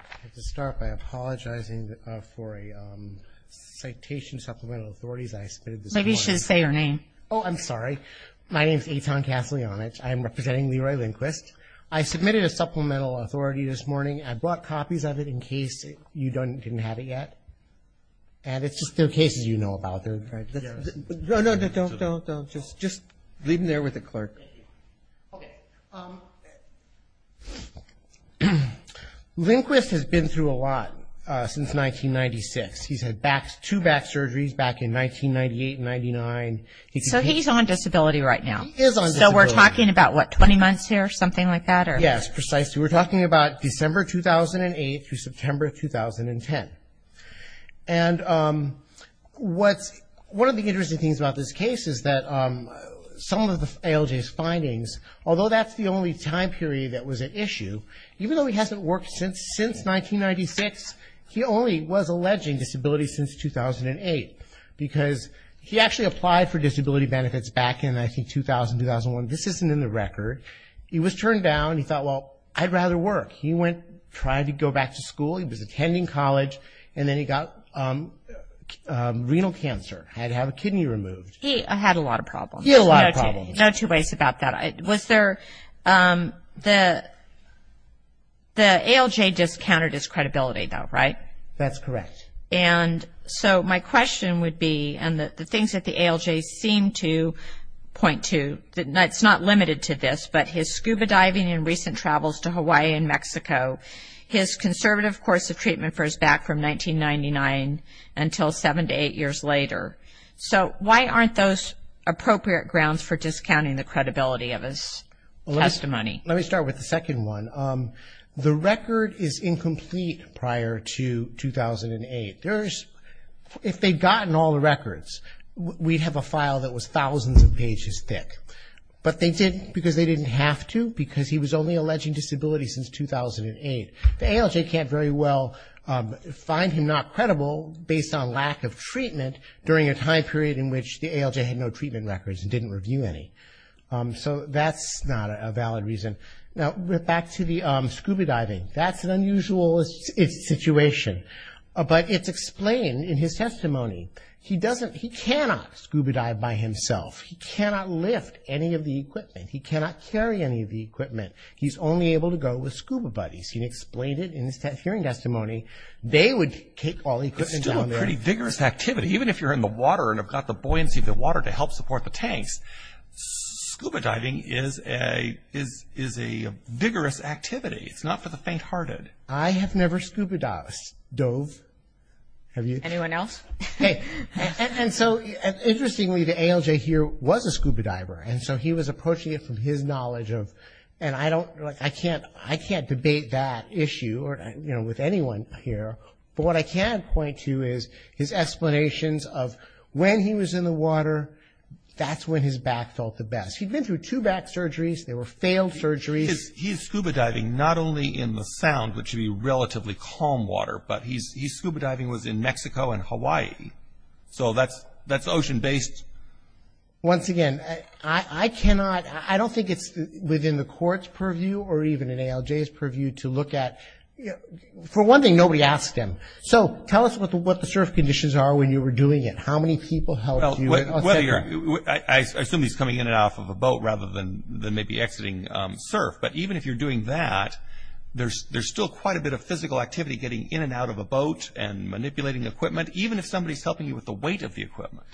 I'd like to start by apologizing for a citation of supplemental authorities I submitted this morning. Maybe you should say your name. Oh, I'm sorry. My name is Eitan Kaslyanich. I'm representing Leroy Lindquist. I submitted a supplemental authority this morning. I brought copies of it in case you didn't have it yet, and it's just the cases you know about. No, no, no, don't, don't, don't. Just leave them there with the clerk. Okay. Lindquist has been through a lot since 1996. He's had two back surgeries back in 1998 and 1999. So he's on disability right now. He is on disability. So we're talking about, what, 20 months here, something like that? Yes, precisely. We're talking about December 2008 through September 2010. And what's, one of the interesting things about this case is that some of the ALJ's findings, although that's the only time period that was at issue, even though he hasn't worked since 1996, he only was alleging disability since 2008 because he actually applied for disability benefits back in, I think, 2000, 2001. This isn't in the record. He was turned down. He thought, well, I'd rather work. He went, tried to go back to school. He was attending college. And then he got renal cancer. Had to have a kidney removed. He had a lot of problems. He had a lot of problems. No two ways about that. Was there, the ALJ discounted his credibility, though, right? That's correct. And so my question would be, and the things that the ALJ seemed to point to, it's not limited to this, but his scuba diving and recent travels to Hawaii and Mexico, his conservative course of treatment for his back from 1999 until seven to eight years later. So why aren't those appropriate grounds for discounting the credibility of his testimony? Let me start with the second one. The record is incomplete prior to 2008. If they'd gotten all the records, we'd have a file that was thousands of pages thick. But they didn't, because they didn't have to, because he was only alleging disability since 2008. The ALJ can't very well find him not credible based on lack of treatment during a time period in which the ALJ had no treatment records and didn't review any. So that's not a valid reason. Now, back to the scuba diving. That's an unusual situation. But it's explained in his testimony. He doesn't, he cannot scuba dive by himself. He cannot lift any of the equipment. He cannot carry any of the equipment. He's only able to go with scuba buddies. He explained it in his hearing testimony. They would take all the equipment down there. It's still a pretty vigorous activity. Even if you're in the water and have got the buoyancy of the water to help support the tanks, scuba diving is a vigorous activity. It's not for the faint-hearted. I have never scuba dove. Have you? Anyone else? Okay. And so, interestingly, the ALJ here was a scuba diver. And so he was approaching it from his knowledge of, and I don't, I can't debate that issue or, you know, with anyone here. But what I can point to is his explanations of when he was in the water, that's when his back felt the best. He'd been through two back surgeries. They were failed surgeries. He's scuba diving not only in the sound, which would be relatively calm water, but his scuba diving was in Mexico and Hawaii. So that's ocean-based. Once again, I cannot, I don't think it's within the court's purview or even an ALJ's purview to look at. For one thing, nobody asked him. So tell us what the surf conditions are when you were doing it. How many people helped you? I assume he's coming in and out of a boat rather than maybe exiting surf. But even if you're doing that, there's still quite a bit of physical activity getting in and out of a boat and manipulating equipment, even if somebody's helping you with the weight of the equipment.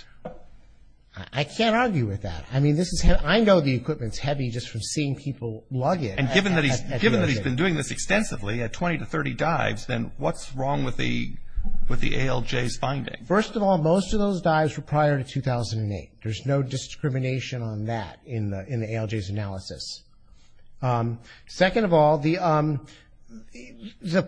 I can't argue with that. I mean, this is, I know the equipment's heavy just from seeing people lug it. And given that he's been doing this extensively at 20 to 30 dives, then what's wrong with the ALJ's finding? First of all, most of those dives were prior to 2008. There's no discrimination on that in the ALJ's analysis. Second of all, the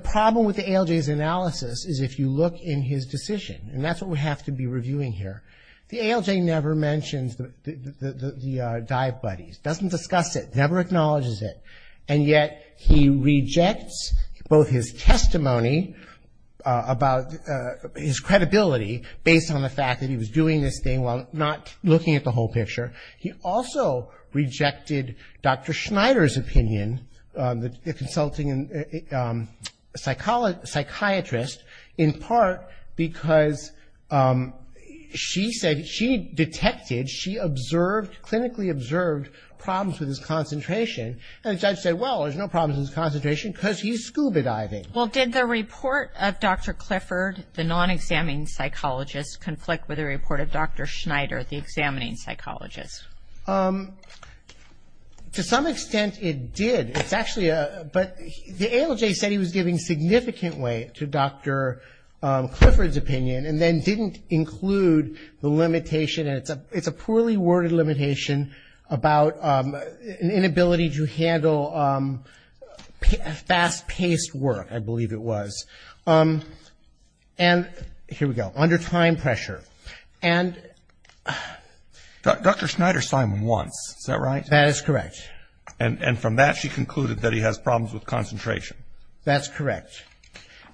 problem with the ALJ's analysis is if you look in his decision, and that's what we have to be reviewing here. The ALJ never mentions the dive buddies, doesn't discuss it, never acknowledges it, and yet he rejects both his testimony about his credibility based on the fact that he was doing this thing while not looking at the whole picture. He also rejected Dr. Schneider's opinion, the consulting psychiatrist, in part because she said she detected, she observed, clinically observed problems with his concentration. And the judge said, well, there's no problems with his concentration because he's scuba diving. Well, did the report of Dr. Clifford, the non-examining psychologist, conflict with the report of Dr. Schneider, the examining psychologist? To some extent it did. It's actually a, but the ALJ said he was giving significant weight to Dr. Clifford's opinion and then didn't include the limitation, and it's a poorly worded limitation, about an inability to handle fast-paced work, I believe it was. And here we go. Under time pressure. Dr. Schneider signed once, is that right? That is correct. And from that she concluded that he has problems with concentration. That's correct.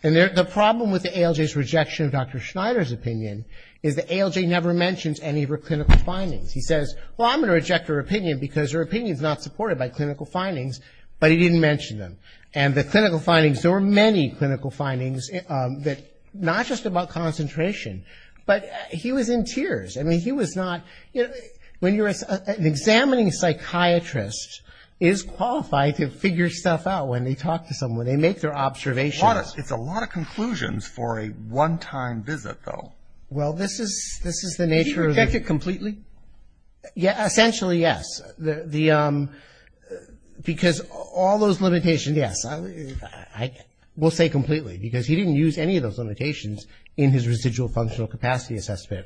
And the problem with the ALJ's rejection of Dr. Schneider's opinion is the ALJ never mentions any of her clinical findings. He says, well, I'm going to reject her opinion because her opinion is not supported by clinical findings, but he didn't mention them. And the clinical findings, there were many clinical findings that, not just about concentration, but he was in tears. I mean, he was not, you know, when you're an examining psychiatrist is qualified to figure stuff out when they talk to someone, they make their observations. It's a lot of conclusions for a one-time visit, though. Well, this is the nature of the Completely? Yeah, essentially, yes. Because all those limitations, yes, I will say completely, because he didn't use any of those limitations in his residual functional capacity assessment.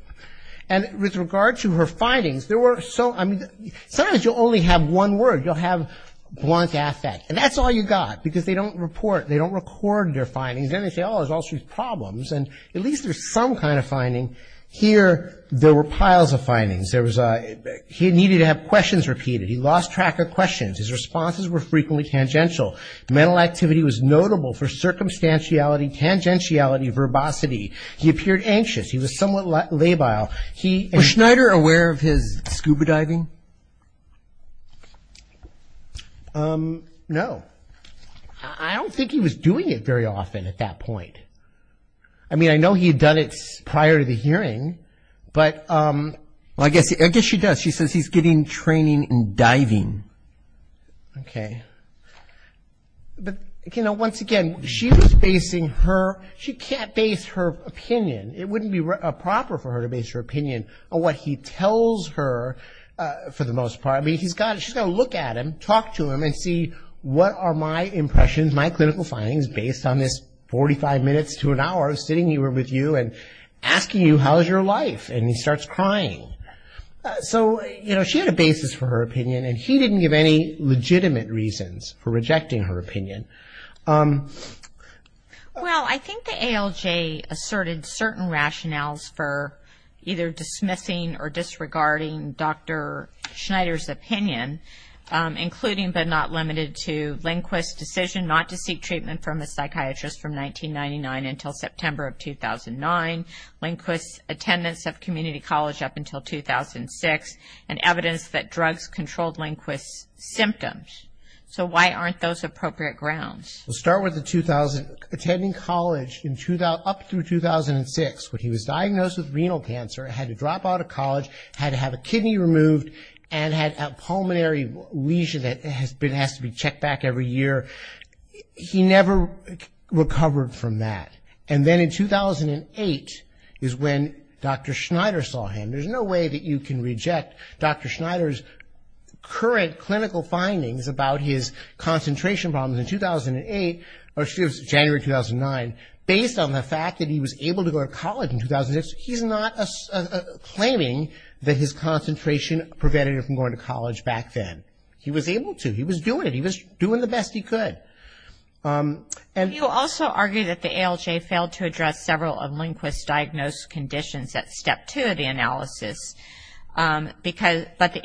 And with regard to her findings, there were so, I mean, sometimes you'll only have one word. You'll have blunt affect. And that's all you got, because they don't report, they don't record their findings. Then they say, oh, there's all sorts of problems. And at least there's some kind of finding. Here, there were piles of findings. He needed to have questions repeated. He lost track of questions. His responses were frequently tangential. Mental activity was notable for circumstantiality, tangentiality, verbosity. He appeared anxious. He was somewhat labile. Was Schneider aware of his scuba diving? No. I don't think he was doing it very often at that point. I mean, I know he had done it prior to the hearing, but. Well, I guess she does. She says he's getting training in diving. Okay. But, you know, once again, she was basing her. She can't base her opinion. It wouldn't be proper for her to base her opinion on what he tells her, for the most part. I mean, she's got to look at him, talk to him, and see what are my impressions, my clinical findings, based on this 45 minutes to an hour of sitting here with you and asking you, how's your life? And he starts crying. So, you know, she had a basis for her opinion, and he didn't give any legitimate reasons for rejecting her opinion. Well, I think the ALJ asserted certain rationales for either dismissing or disregarding Dr. Schneider's opinion, including but not limited to Lindquist's decision not to seek treatment from a psychiatrist from 1999 until September of 2009, Lindquist's attendance of community college up until 2006, and evidence that drugs controlled Lindquist's symptoms. So why aren't those appropriate grounds? Let's start with the 2000. Attending college up through 2006 when he was diagnosed with renal cancer and had to drop out of college, had to have a kidney removed, and had a pulmonary lesion that has to be checked back every year. He never recovered from that. And then in 2008 is when Dr. Schneider saw him. There's no way that you can reject Dr. Schneider's current clinical findings about his concentration problems in 2008, or excuse me, January 2009, based on the fact that he was able to go to college in 2006. He's not claiming that his concentration prevented him from going to college back then. He was able to. He was doing it. He was doing the best he could. You also argue that the ALJ failed to address several of Lindquist's diagnosed conditions at Step 2 of the analysis, but the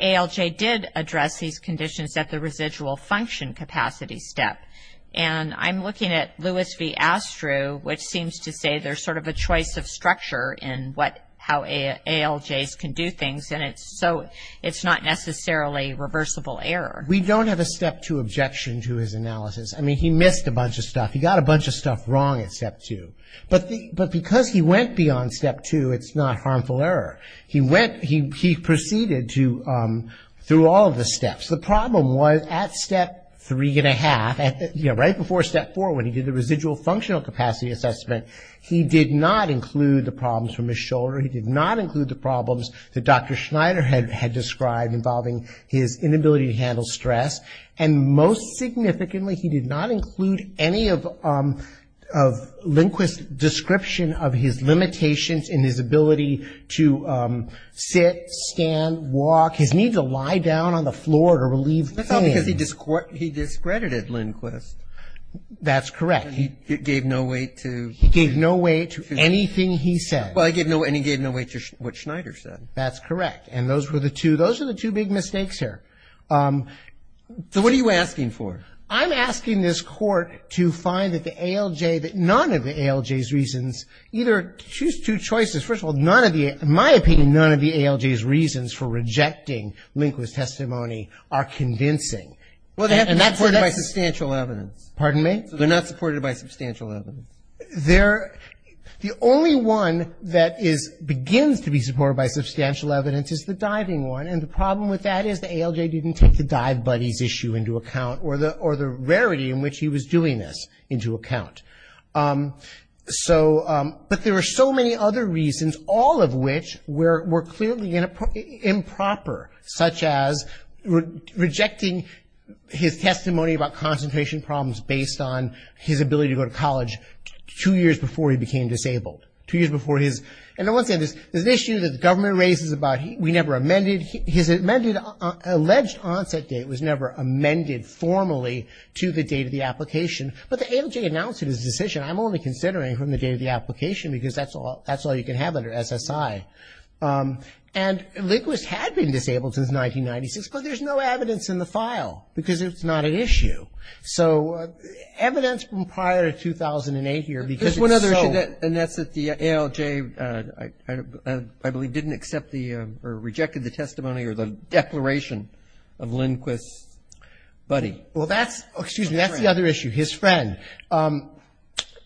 ALJ did address these conditions at the residual function capacity step. And I'm looking at Lewis v. Astru, which seems to say there's sort of a choice of structure in how ALJs can do things, and it's not necessarily reversible error. We don't have a Step 2 objection to his analysis. I mean, he missed a bunch of stuff. He got a bunch of stuff wrong at Step 2. But because he went beyond Step 2, it's not harmful error. He proceeded through all of the steps. The problem was at Step 3.5, right before Step 4 when he did the residual functional capacity assessment, he did not include the problems from his shoulder. He did not include the problems that Dr. Schneider had described involving his inability to handle stress. And most significantly, he did not include any of Lindquist's description of his limitations in his ability to sit, stand, walk, his need to lie down on the floor to relieve pain. That's not because he discredited Lindquist. That's correct. And he gave no weight to? He gave no weight to anything he said. Well, and he gave no weight to what Schneider said. That's correct. And those were the two big mistakes here. So what are you asking for? I'm asking this Court to find that the ALJ, that none of the ALJ's reasons, either choose two choices. First of all, none of the, in my opinion, none of the ALJ's reasons for rejecting Lindquist's testimony are convincing. Well, they have to be supported by substantial evidence. Pardon me? So they're not supported by substantial evidence. They're, the only one that is, begins to be supported by substantial evidence is the diving one. And the problem with that is the ALJ didn't take the dive buddies issue into account, or the rarity in which he was doing this into account. So, but there are so many other reasons, all of which were clearly improper, such as rejecting his testimony about concentration problems based on his ability to go to college two years before he became disabled. Two years before his, and I want to say this, there's an issue that the government raises about we never amended, his amended, alleged onset date was never amended formally to the date of the application. But the ALJ announced it as a decision, I'm only considering from the date of the application, because that's all you can have under SSI. And Lindquist had been disabled since 1996, but there's no evidence in the file, because it's not an issue. So evidence from prior to 2008 here, because it's so. Roberts. There's one other issue, and that's that the ALJ, I believe, didn't accept the, or rejected the testimony or the declaration of Lindquist's buddy. Well, that's, excuse me, that's the other issue, his friend.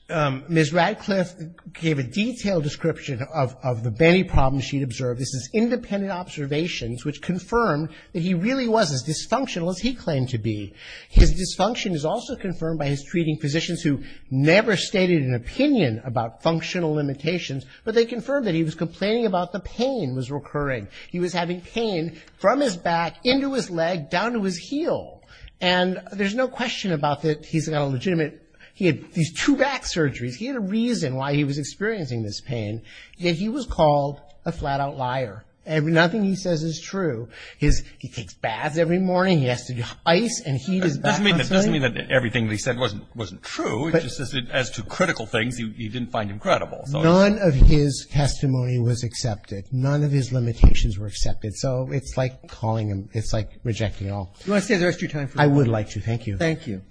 Ms. Radcliffe gave a detailed description of the many problems she'd observed. This is independent observations, which confirmed that he really was as dysfunctional as he claimed to be. His dysfunction is also confirmed by his treating physicians, who never stated an opinion about functional limitations, but they confirmed that he was complaining about the pain was recurring. He was having pain from his back, into his leg, down to his heel. And there's no question about that he's got a legitimate, he had these two back surgeries. He had a reason why he was experiencing this pain. Yet he was called a flat-out liar. Nothing he says is true. His, he takes baths every morning. He has to do ice and heat his back constantly. It doesn't mean that everything he said wasn't true. It just says that as to critical things, you didn't find him credible. None of his testimony was accepted. None of his limitations were accepted. So it's like calling him, it's like rejecting all. Do you want to stay the rest of your time? I would like to. Thank you.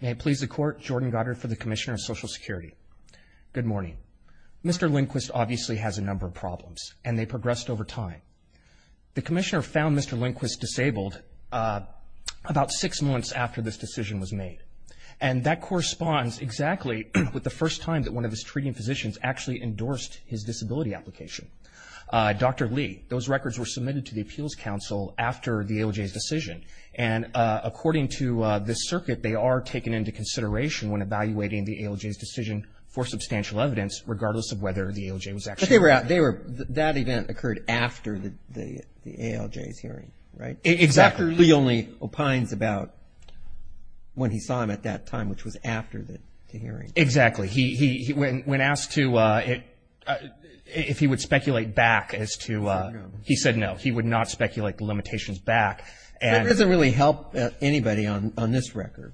May it please the Court, Jordan Goddard for the Commissioner of Social Security. Good morning. Mr. Lindquist obviously has a number of problems, and they progressed over time. The Commissioner found Mr. Lindquist disabled about six months after this decision was made. And that corresponds exactly with the first time that one of his treating physicians actually endorsed his disability application. Dr. Lee, those records were submitted to the Appeals Council after the ALJ's decision. And according to this circuit, they are taken into consideration when evaluating the ALJ's decision for substantial evidence, regardless of whether the ALJ was actually involved. That event occurred after the ALJ's hearing, right? Exactly. Dr. Lee only opines about when he saw him at that time, which was after the hearing. Exactly. When asked if he would speculate back as to, he said no. He would not speculate the limitations back. That doesn't really help anybody on this record.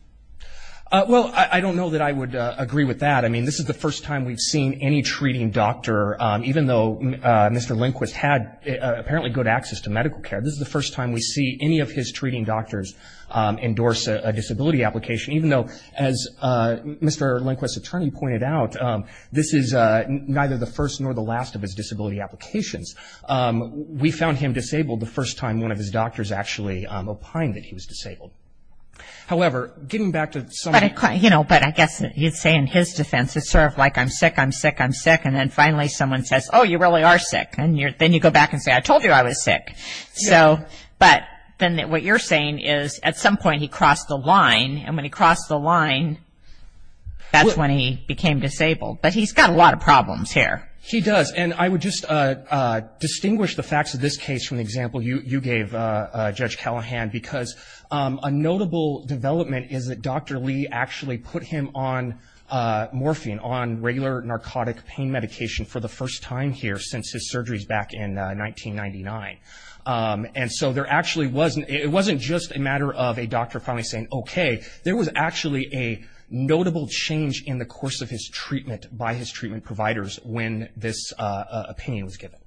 Well, I don't know that I would agree with that. I mean, this is the first time we've seen any treating doctor, even though Mr. Lindquist had apparently good access to medical care, this is the first time we see any of his treating doctors endorse a disability application, even though, as Mr. Lindquist's attorney pointed out, this is neither the first nor the last of his disability applications. We found him disabled the first time one of his doctors actually opined that he was disabled. However, getting back to some of the- it's sort of like I'm sick, I'm sick, I'm sick, and then finally someone says, oh, you really are sick, and then you go back and say, I told you I was sick. But then what you're saying is at some point he crossed the line, and when he crossed the line, that's when he became disabled. But he's got a lot of problems here. He does, and I would just distinguish the facts of this case from the example you gave, Judge Callahan, because a notable development is that Dr. Lee actually put him on morphine, on regular narcotic pain medication for the first time here since his surgeries back in 1999. And so there actually wasn't- it wasn't just a matter of a doctor probably saying, okay, there was actually a notable change in the course of his treatment by his treatment providers when this opinion was given.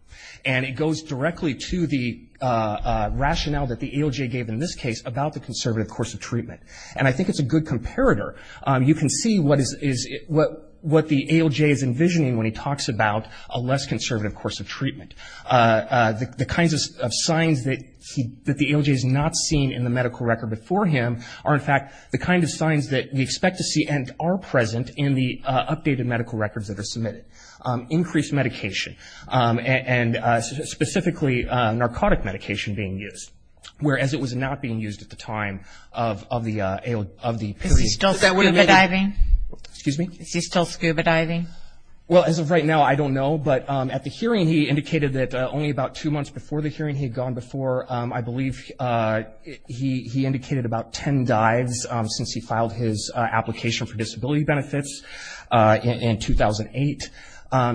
And it goes directly to the rationale that the ALJ gave in this case about the conservative course of treatment. And I think it's a good comparator. You can see what the ALJ is envisioning when he talks about a less conservative course of treatment. The kinds of signs that the ALJ has not seen in the medical record before him are, in fact, the kind of signs that we expect to see and are present in the updated medical records that are submitted. Increased medication, and specifically narcotic medication being used, whereas it was not being used at the time of the period. Is he still scuba diving? Excuse me? Is he still scuba diving? Well, as of right now, I don't know. But at the hearing he indicated that only about two months before the hearing he had gone before, I believe he indicated about ten dives since he filed his application for disability benefits in 2008.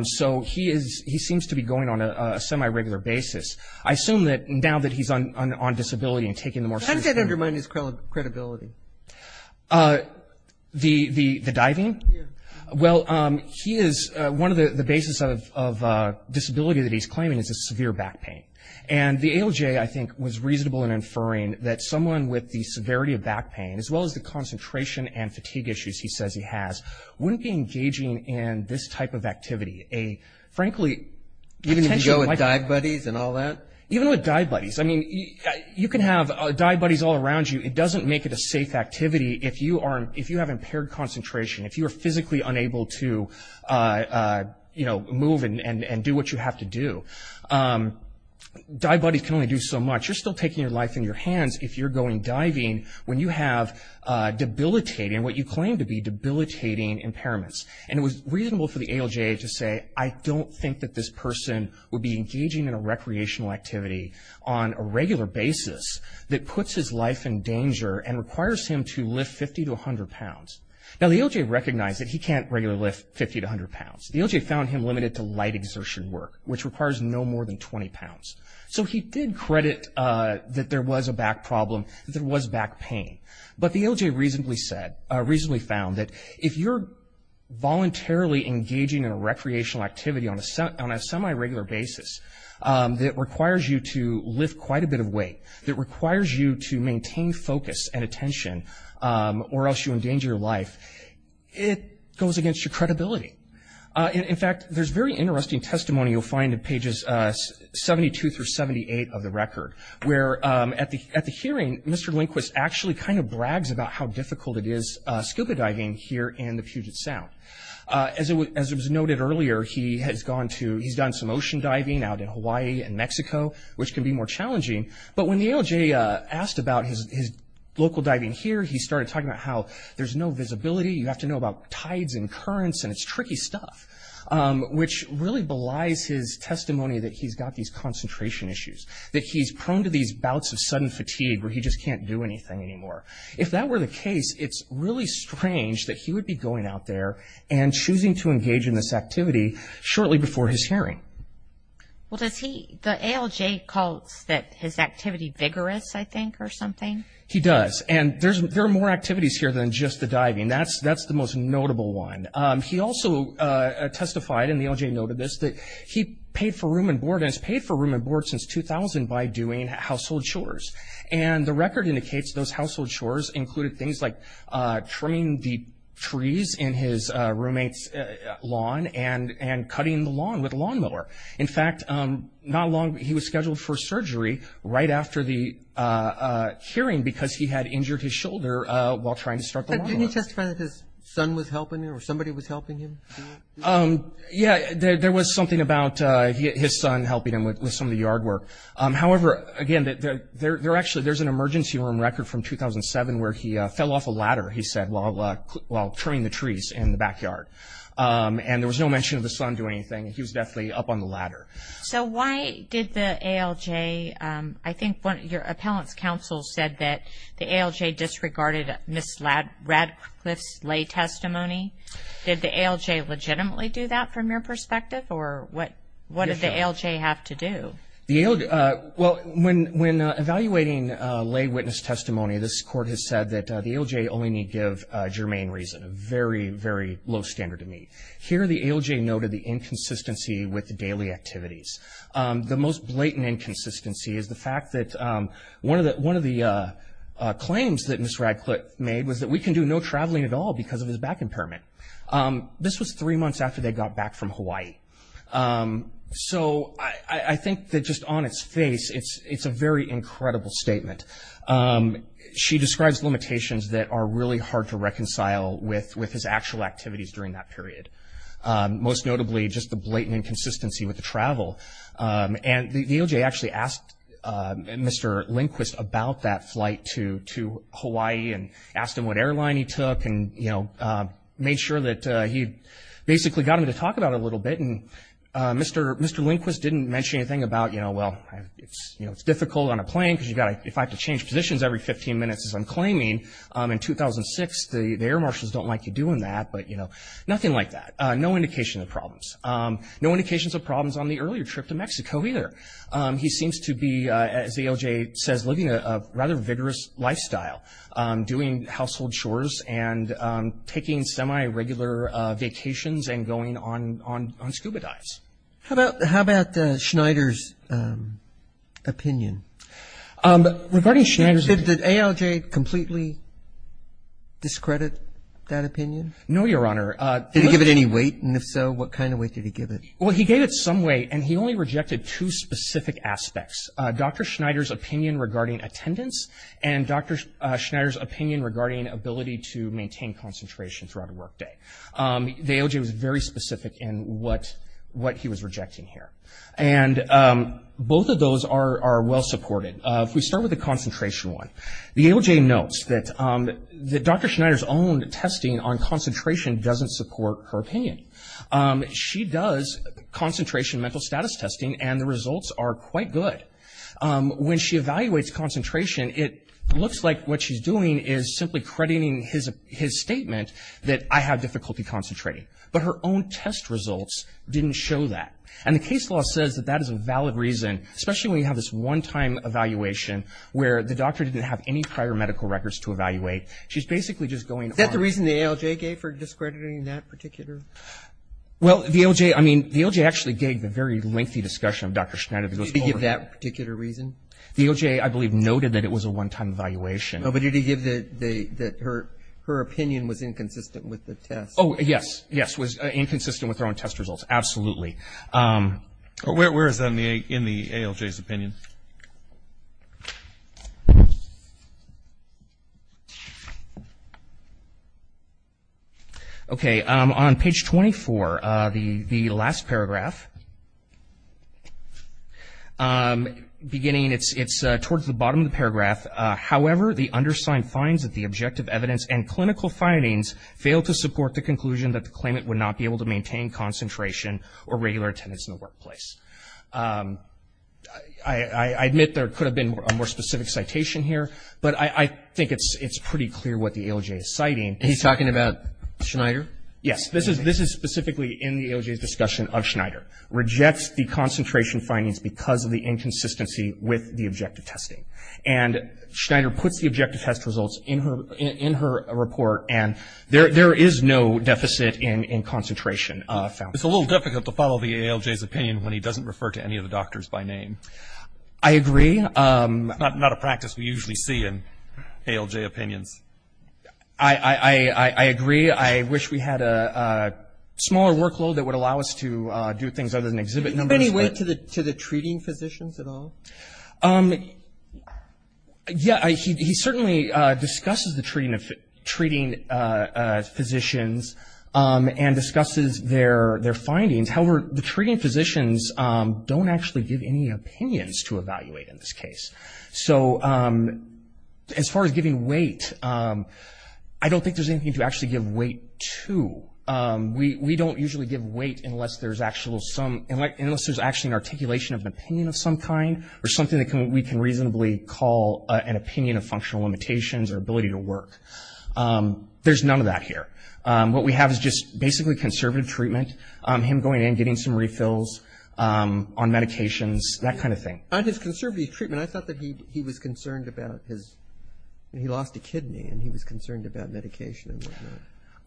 So he seems to be going on a semi-regular basis. I assume that now that he's on disability and taking the more serious — How does that undermine his credibility? The diving? Yes. Well, he is — one of the bases of disability that he's claiming is a severe back pain. And the ALJ, I think, was reasonable in inferring that someone with the severity of back pain, as well as the concentration and fatigue issues he says he has, wouldn't be engaging in this type of activity, a, frankly — Even if you go with dive buddies and all that? Even with dive buddies. I mean, you can have dive buddies all around you. It doesn't make it a safe activity if you are — if you have impaired concentration, if you are physically unable to, you know, move and do what you have to do. Dive buddies can only do so much. You're still taking your life in your hands if you're going diving when you have debilitating, what you claim to be debilitating impairments. And it was reasonable for the ALJ to say, I don't think that this person would be engaging in a recreational activity on a regular basis that puts his life in danger and requires him to lift 50 to 100 pounds. Now, the ALJ recognized that he can't regularly lift 50 to 100 pounds. The ALJ found him limited to light exertion work, which requires no more than 20 pounds. So he did credit that there was a back problem, that there was back pain. But the ALJ reasonably said — reasonably found that if you're voluntarily engaging in a recreational activity on a semi-regular basis that requires you to lift quite a bit of weight, that requires you to maintain focus and attention or else you endanger your life, it goes against your credibility. In fact, there's very interesting testimony you'll find in pages 72 through 78 of the record, where at the hearing, Mr. Lindquist actually kind of brags about how difficult it is scuba diving here in the Puget Sound. As was noted earlier, he has gone to — he's done some ocean diving out in Hawaii and Mexico, which can be more challenging, but when the ALJ asked about his local diving here, he started talking about how there's no visibility. You have to know about tides and currents and it's tricky stuff, which really belies his testimony that he's got these concentration issues, that he's prone to these bouts of sudden fatigue where he just can't do anything anymore. If that were the case, it's really strange that he would be going out there and choosing to engage in this activity shortly before his hearing. Well, does he — the ALJ calls his activity vigorous, I think, or something? He does, and there are more activities here than just the diving. That's the most notable one. He also testified, and the ALJ noted this, that he paid for room and board, and has paid for room and board since 2000 by doing household chores. And the record indicates those household chores included things like trimming the trees in his roommate's lawn and cutting the lawn with a lawnmower. In fact, not long — he was scheduled for surgery right after the hearing because he had injured his shoulder while trying to start the lawnmower. But didn't he testify that his son was helping him or somebody was helping him? Yeah, there was something about his son helping him with some of the yard work. However, again, there actually — there's an emergency room record from 2007 where he fell off a ladder, he said, while trimming the trees in the backyard. And there was no mention of the son doing anything. He was definitely up on the ladder. So why did the ALJ — I think your appellant's counsel said that the ALJ disregarded Ms. Radcliffe's lay testimony. Did the ALJ legitimately do that from your perspective, or what did the ALJ have to do? The ALJ — well, when evaluating lay witness testimony, this court has said that the ALJ only need give germane reason, a very, very low standard to meet. Here the ALJ noted the inconsistency with daily activities. The most blatant inconsistency is the fact that one of the claims that Ms. Radcliffe made was that we can do no traveling at all because of his back impairment. This was three months after they got back from Hawaii. So I think that just on its face, it's a very incredible statement. She describes limitations that are really hard to reconcile with his actual activities during that period, most notably just the blatant inconsistency with the travel. And the ALJ actually asked Mr. Lindquist about that flight to Hawaii and asked him what airline he took and made sure that he basically got him to talk about it a little bit. And Mr. Lindquist didn't mention anything about, well, it's difficult on a plane because if I have to change positions every 15 minutes, as I'm claiming, in 2006 the air marshals don't like you doing that, but nothing like that. No indication of problems. No indications of problems on the earlier trip to Mexico either. He seems to be, as ALJ says, living a rather vigorous lifestyle, doing household chores and taking semi-regular vacations and going on scuba dives. How about Schneider's opinion? Regarding Schneider's opinion. Did ALJ completely discredit that opinion? No, Your Honor. Did he give it any weight, and if so, what kind of weight did he give it? Well, he gave it some weight, and he only rejected two specific aspects, Dr. Schneider's opinion regarding attendance and Dr. Schneider's opinion regarding ability to maintain concentration throughout a workday. The ALJ was very specific in what he was rejecting here. And both of those are well supported. If we start with the concentration one, the ALJ notes that Dr. Schneider's own testing on concentration doesn't support her opinion. She does concentration mental status testing, and the results are quite good. When she evaluates concentration, it looks like what she's doing is simply crediting his statement that I have difficulty concentrating. But her own test results didn't show that. And the case law says that that is a valid reason, especially when you have this one-time evaluation where the doctor didn't have any prior medical records to evaluate. She's basically just going on. Is there a reason the ALJ gave for discrediting that particular? Well, the ALJ, I mean, the ALJ actually gave the very lengthy discussion of Dr. Schneider. Did he give that particular reason? The ALJ, I believe, noted that it was a one-time evaluation. But did he give that her opinion was inconsistent with the test? Oh, yes. Yes, it was inconsistent with her own test results. Absolutely. Where is that in the ALJ's opinion? Okay. On page 24, the last paragraph, beginning, it's towards the bottom of the paragraph, however, the undersigned finds that the objective evidence and clinical findings fail to support the conclusion that the claimant would not be able to maintain concentration or regular attendance in the workplace. I admit there could have been a more specific citation here, He's talking about Schneider? Yes. This is specifically in the ALJ's discussion of Schneider. Rejects the concentration findings because of the inconsistency with the objective testing. And Schneider puts the objective test results in her report, and there is no deficit in concentration found. It's a little difficult to follow the ALJ's opinion when he doesn't refer to any of the doctors by name. I agree. Not a practice we usually see in ALJ opinions. I agree. I wish we had a smaller workload that would allow us to do things other than exhibit numbers. Do you have any weight to the treating physicians at all? Yeah. He certainly discusses the treating physicians and discusses their findings. However, the treating physicians don't actually give any opinions to evaluate in this case. So as far as giving weight, I don't think there's anything to actually give weight to. We don't usually give weight unless there's actually an articulation of an opinion of some kind or something that we can reasonably call an opinion of functional limitations or ability to work. There's none of that here. What we have is just basically conservative treatment, him going in and getting some refills on medications, that kind of thing. On his conservative treatment, I thought that he was concerned about his – he lost a kidney and he was concerned about medication and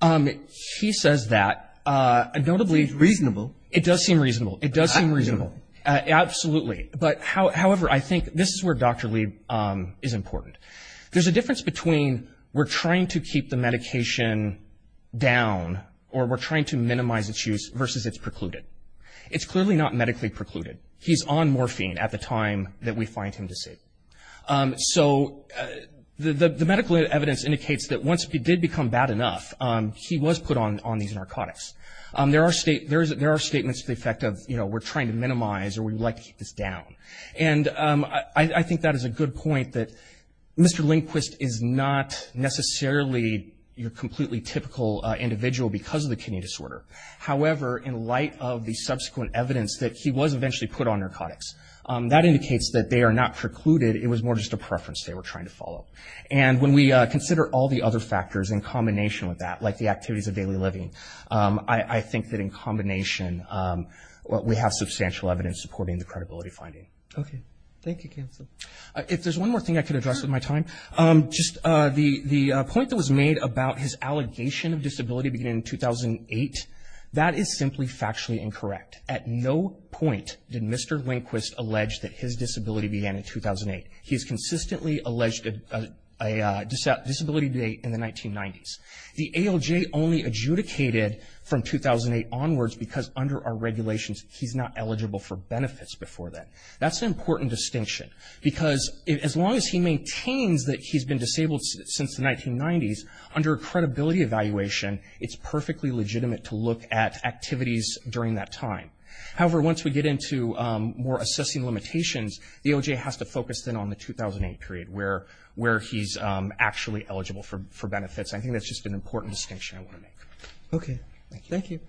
whatnot. He says that. It seems reasonable. It does seem reasonable. It does seem reasonable. Absolutely. However, I think this is where Dr. Lee is important. There's a difference between we're trying to keep the medication down or we're trying to minimize its use versus it's precluded. It's clearly not medically precluded. He's on morphine at the time that we find him disabled. So the medical evidence indicates that once he did become bad enough, he was put on these narcotics. There are statements to the effect of, you know, we're trying to minimize or we'd like to keep this down. And I think that is a good point that Mr. Lindquist is not necessarily a completely typical individual because of the kidney disorder. However, in light of the subsequent evidence that he was eventually put on narcotics, that indicates that they are not precluded. It was more just a preference they were trying to follow. And when we consider all the other factors in combination with that, like the activities of daily living, I think that in combination we have substantial evidence supporting the credibility finding. Okay. Thank you, Cancel. If there's one more thing I could address with my time, just the point that was made about his allegation of disability beginning in 2008, that is simply factually incorrect. At no point did Mr. Lindquist allege that his disability began in 2008. He has consistently alleged a disability date in the 1990s. The ALJ only adjudicated from 2008 onwards because under our regulations, he's not eligible for benefits before then. That's an important distinction because as long as he maintains that he's been disabled since the 1990s, under a credibility evaluation, it's perfectly legitimate to look at activities during that time. However, once we get into more assessing limitations, the ALJ has to focus then on the 2008 period where he's actually eligible for benefits. I think that's just an important distinction I want to make. Okay. Thank you.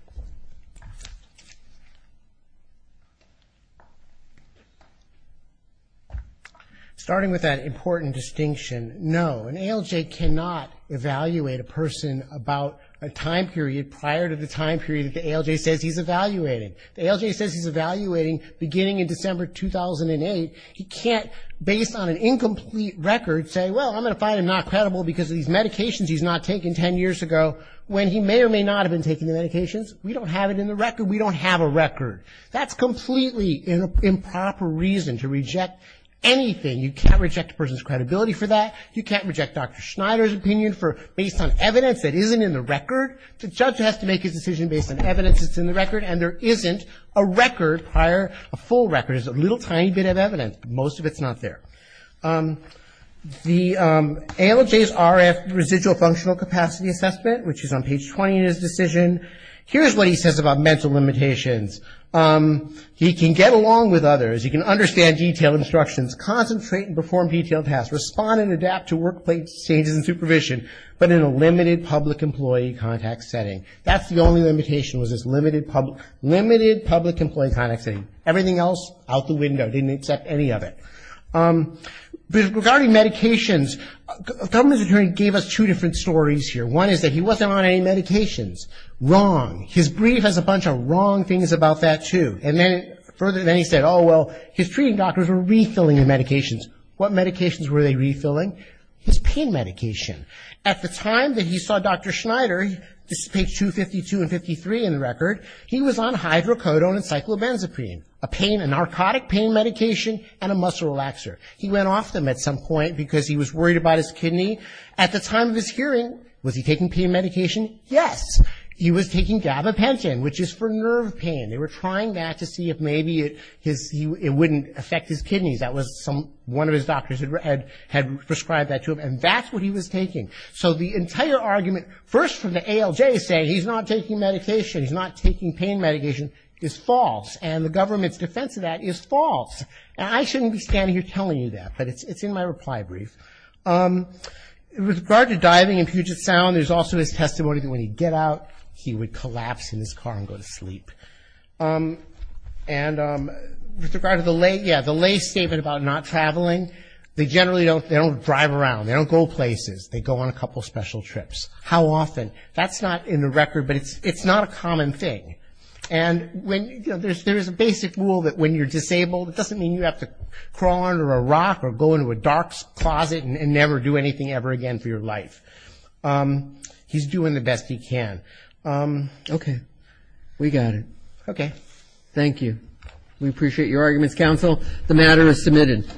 Starting with that important distinction, no. An ALJ cannot evaluate a person about a time period prior to the time period that the ALJ says he's evaluating. The ALJ says he's evaluating beginning in December 2008. He can't, based on an incomplete record, say, well, I'm going to find him not credible because of these medications he's not taking 10 years ago when he may or may not have been taking the medications. We don't have it in the record. We don't have a record. That's completely improper reason to reject anything. You can't reject a person's credibility for that. You can't reject Dr. Schneider's opinion based on evidence that isn't in the record. The judge has to make his decision based on evidence that's in the record, and there isn't a record prior. A full record is a little tiny bit of evidence, but most of it's not there. The ALJ's RF, residual functional capacity assessment, which is on page 20 in his decision, here's what he says about mental limitations. He can get along with others. He can understand detailed instructions, concentrate and perform detailed tasks, respond and adapt to workplace changes and supervision, but in a limited public employee contact setting. That's the only limitation was this limited public employee contact setting. Everything else, out the window. Didn't accept any of it. Regarding medications, the government's attorney gave us two different stories here. One is that he wasn't on any medications. Wrong. His brief has a bunch of wrong things about that, too. And then he said, oh, well, his treating doctors were refilling the medications. What medications were they refilling? His pain medication. At the time that he saw Dr. Schneider, this is page 252 and 253 in the record, he was on hydrocodone and cyclobenzaprine, a narcotic pain medication and a muscle relaxer. He went off them at some point because he was worried about his kidney. At the time of his hearing, was he taking pain medication? Yes. He was taking gabapentin, which is for nerve pain. They were trying that to see if maybe it wouldn't affect his kidneys. That was one of his doctors had prescribed that to him. And that's what he was taking. So the entire argument, first from the ALJ, saying he's not taking medication, he's not taking pain medication, is false. And the government's defense of that is false. I shouldn't be standing here telling you that, but it's in my reply brief. With regard to diving in Puget Sound, there's also his testimony that when he'd get out, he would collapse in his car and go to sleep. And with regard to the lay statement about not traveling, they generally don't drive around. They don't go places. They go on a couple special trips. How often? That's not in the record, but it's not a common thing. And there is a basic rule that when you're disabled, it doesn't mean you have to crawl under a rock or go into a dark closet and never do anything ever again for your life. He's doing the best he can. Okay. We got it. Okay. Thank you. We appreciate your arguments, counsel. The matter is submitted.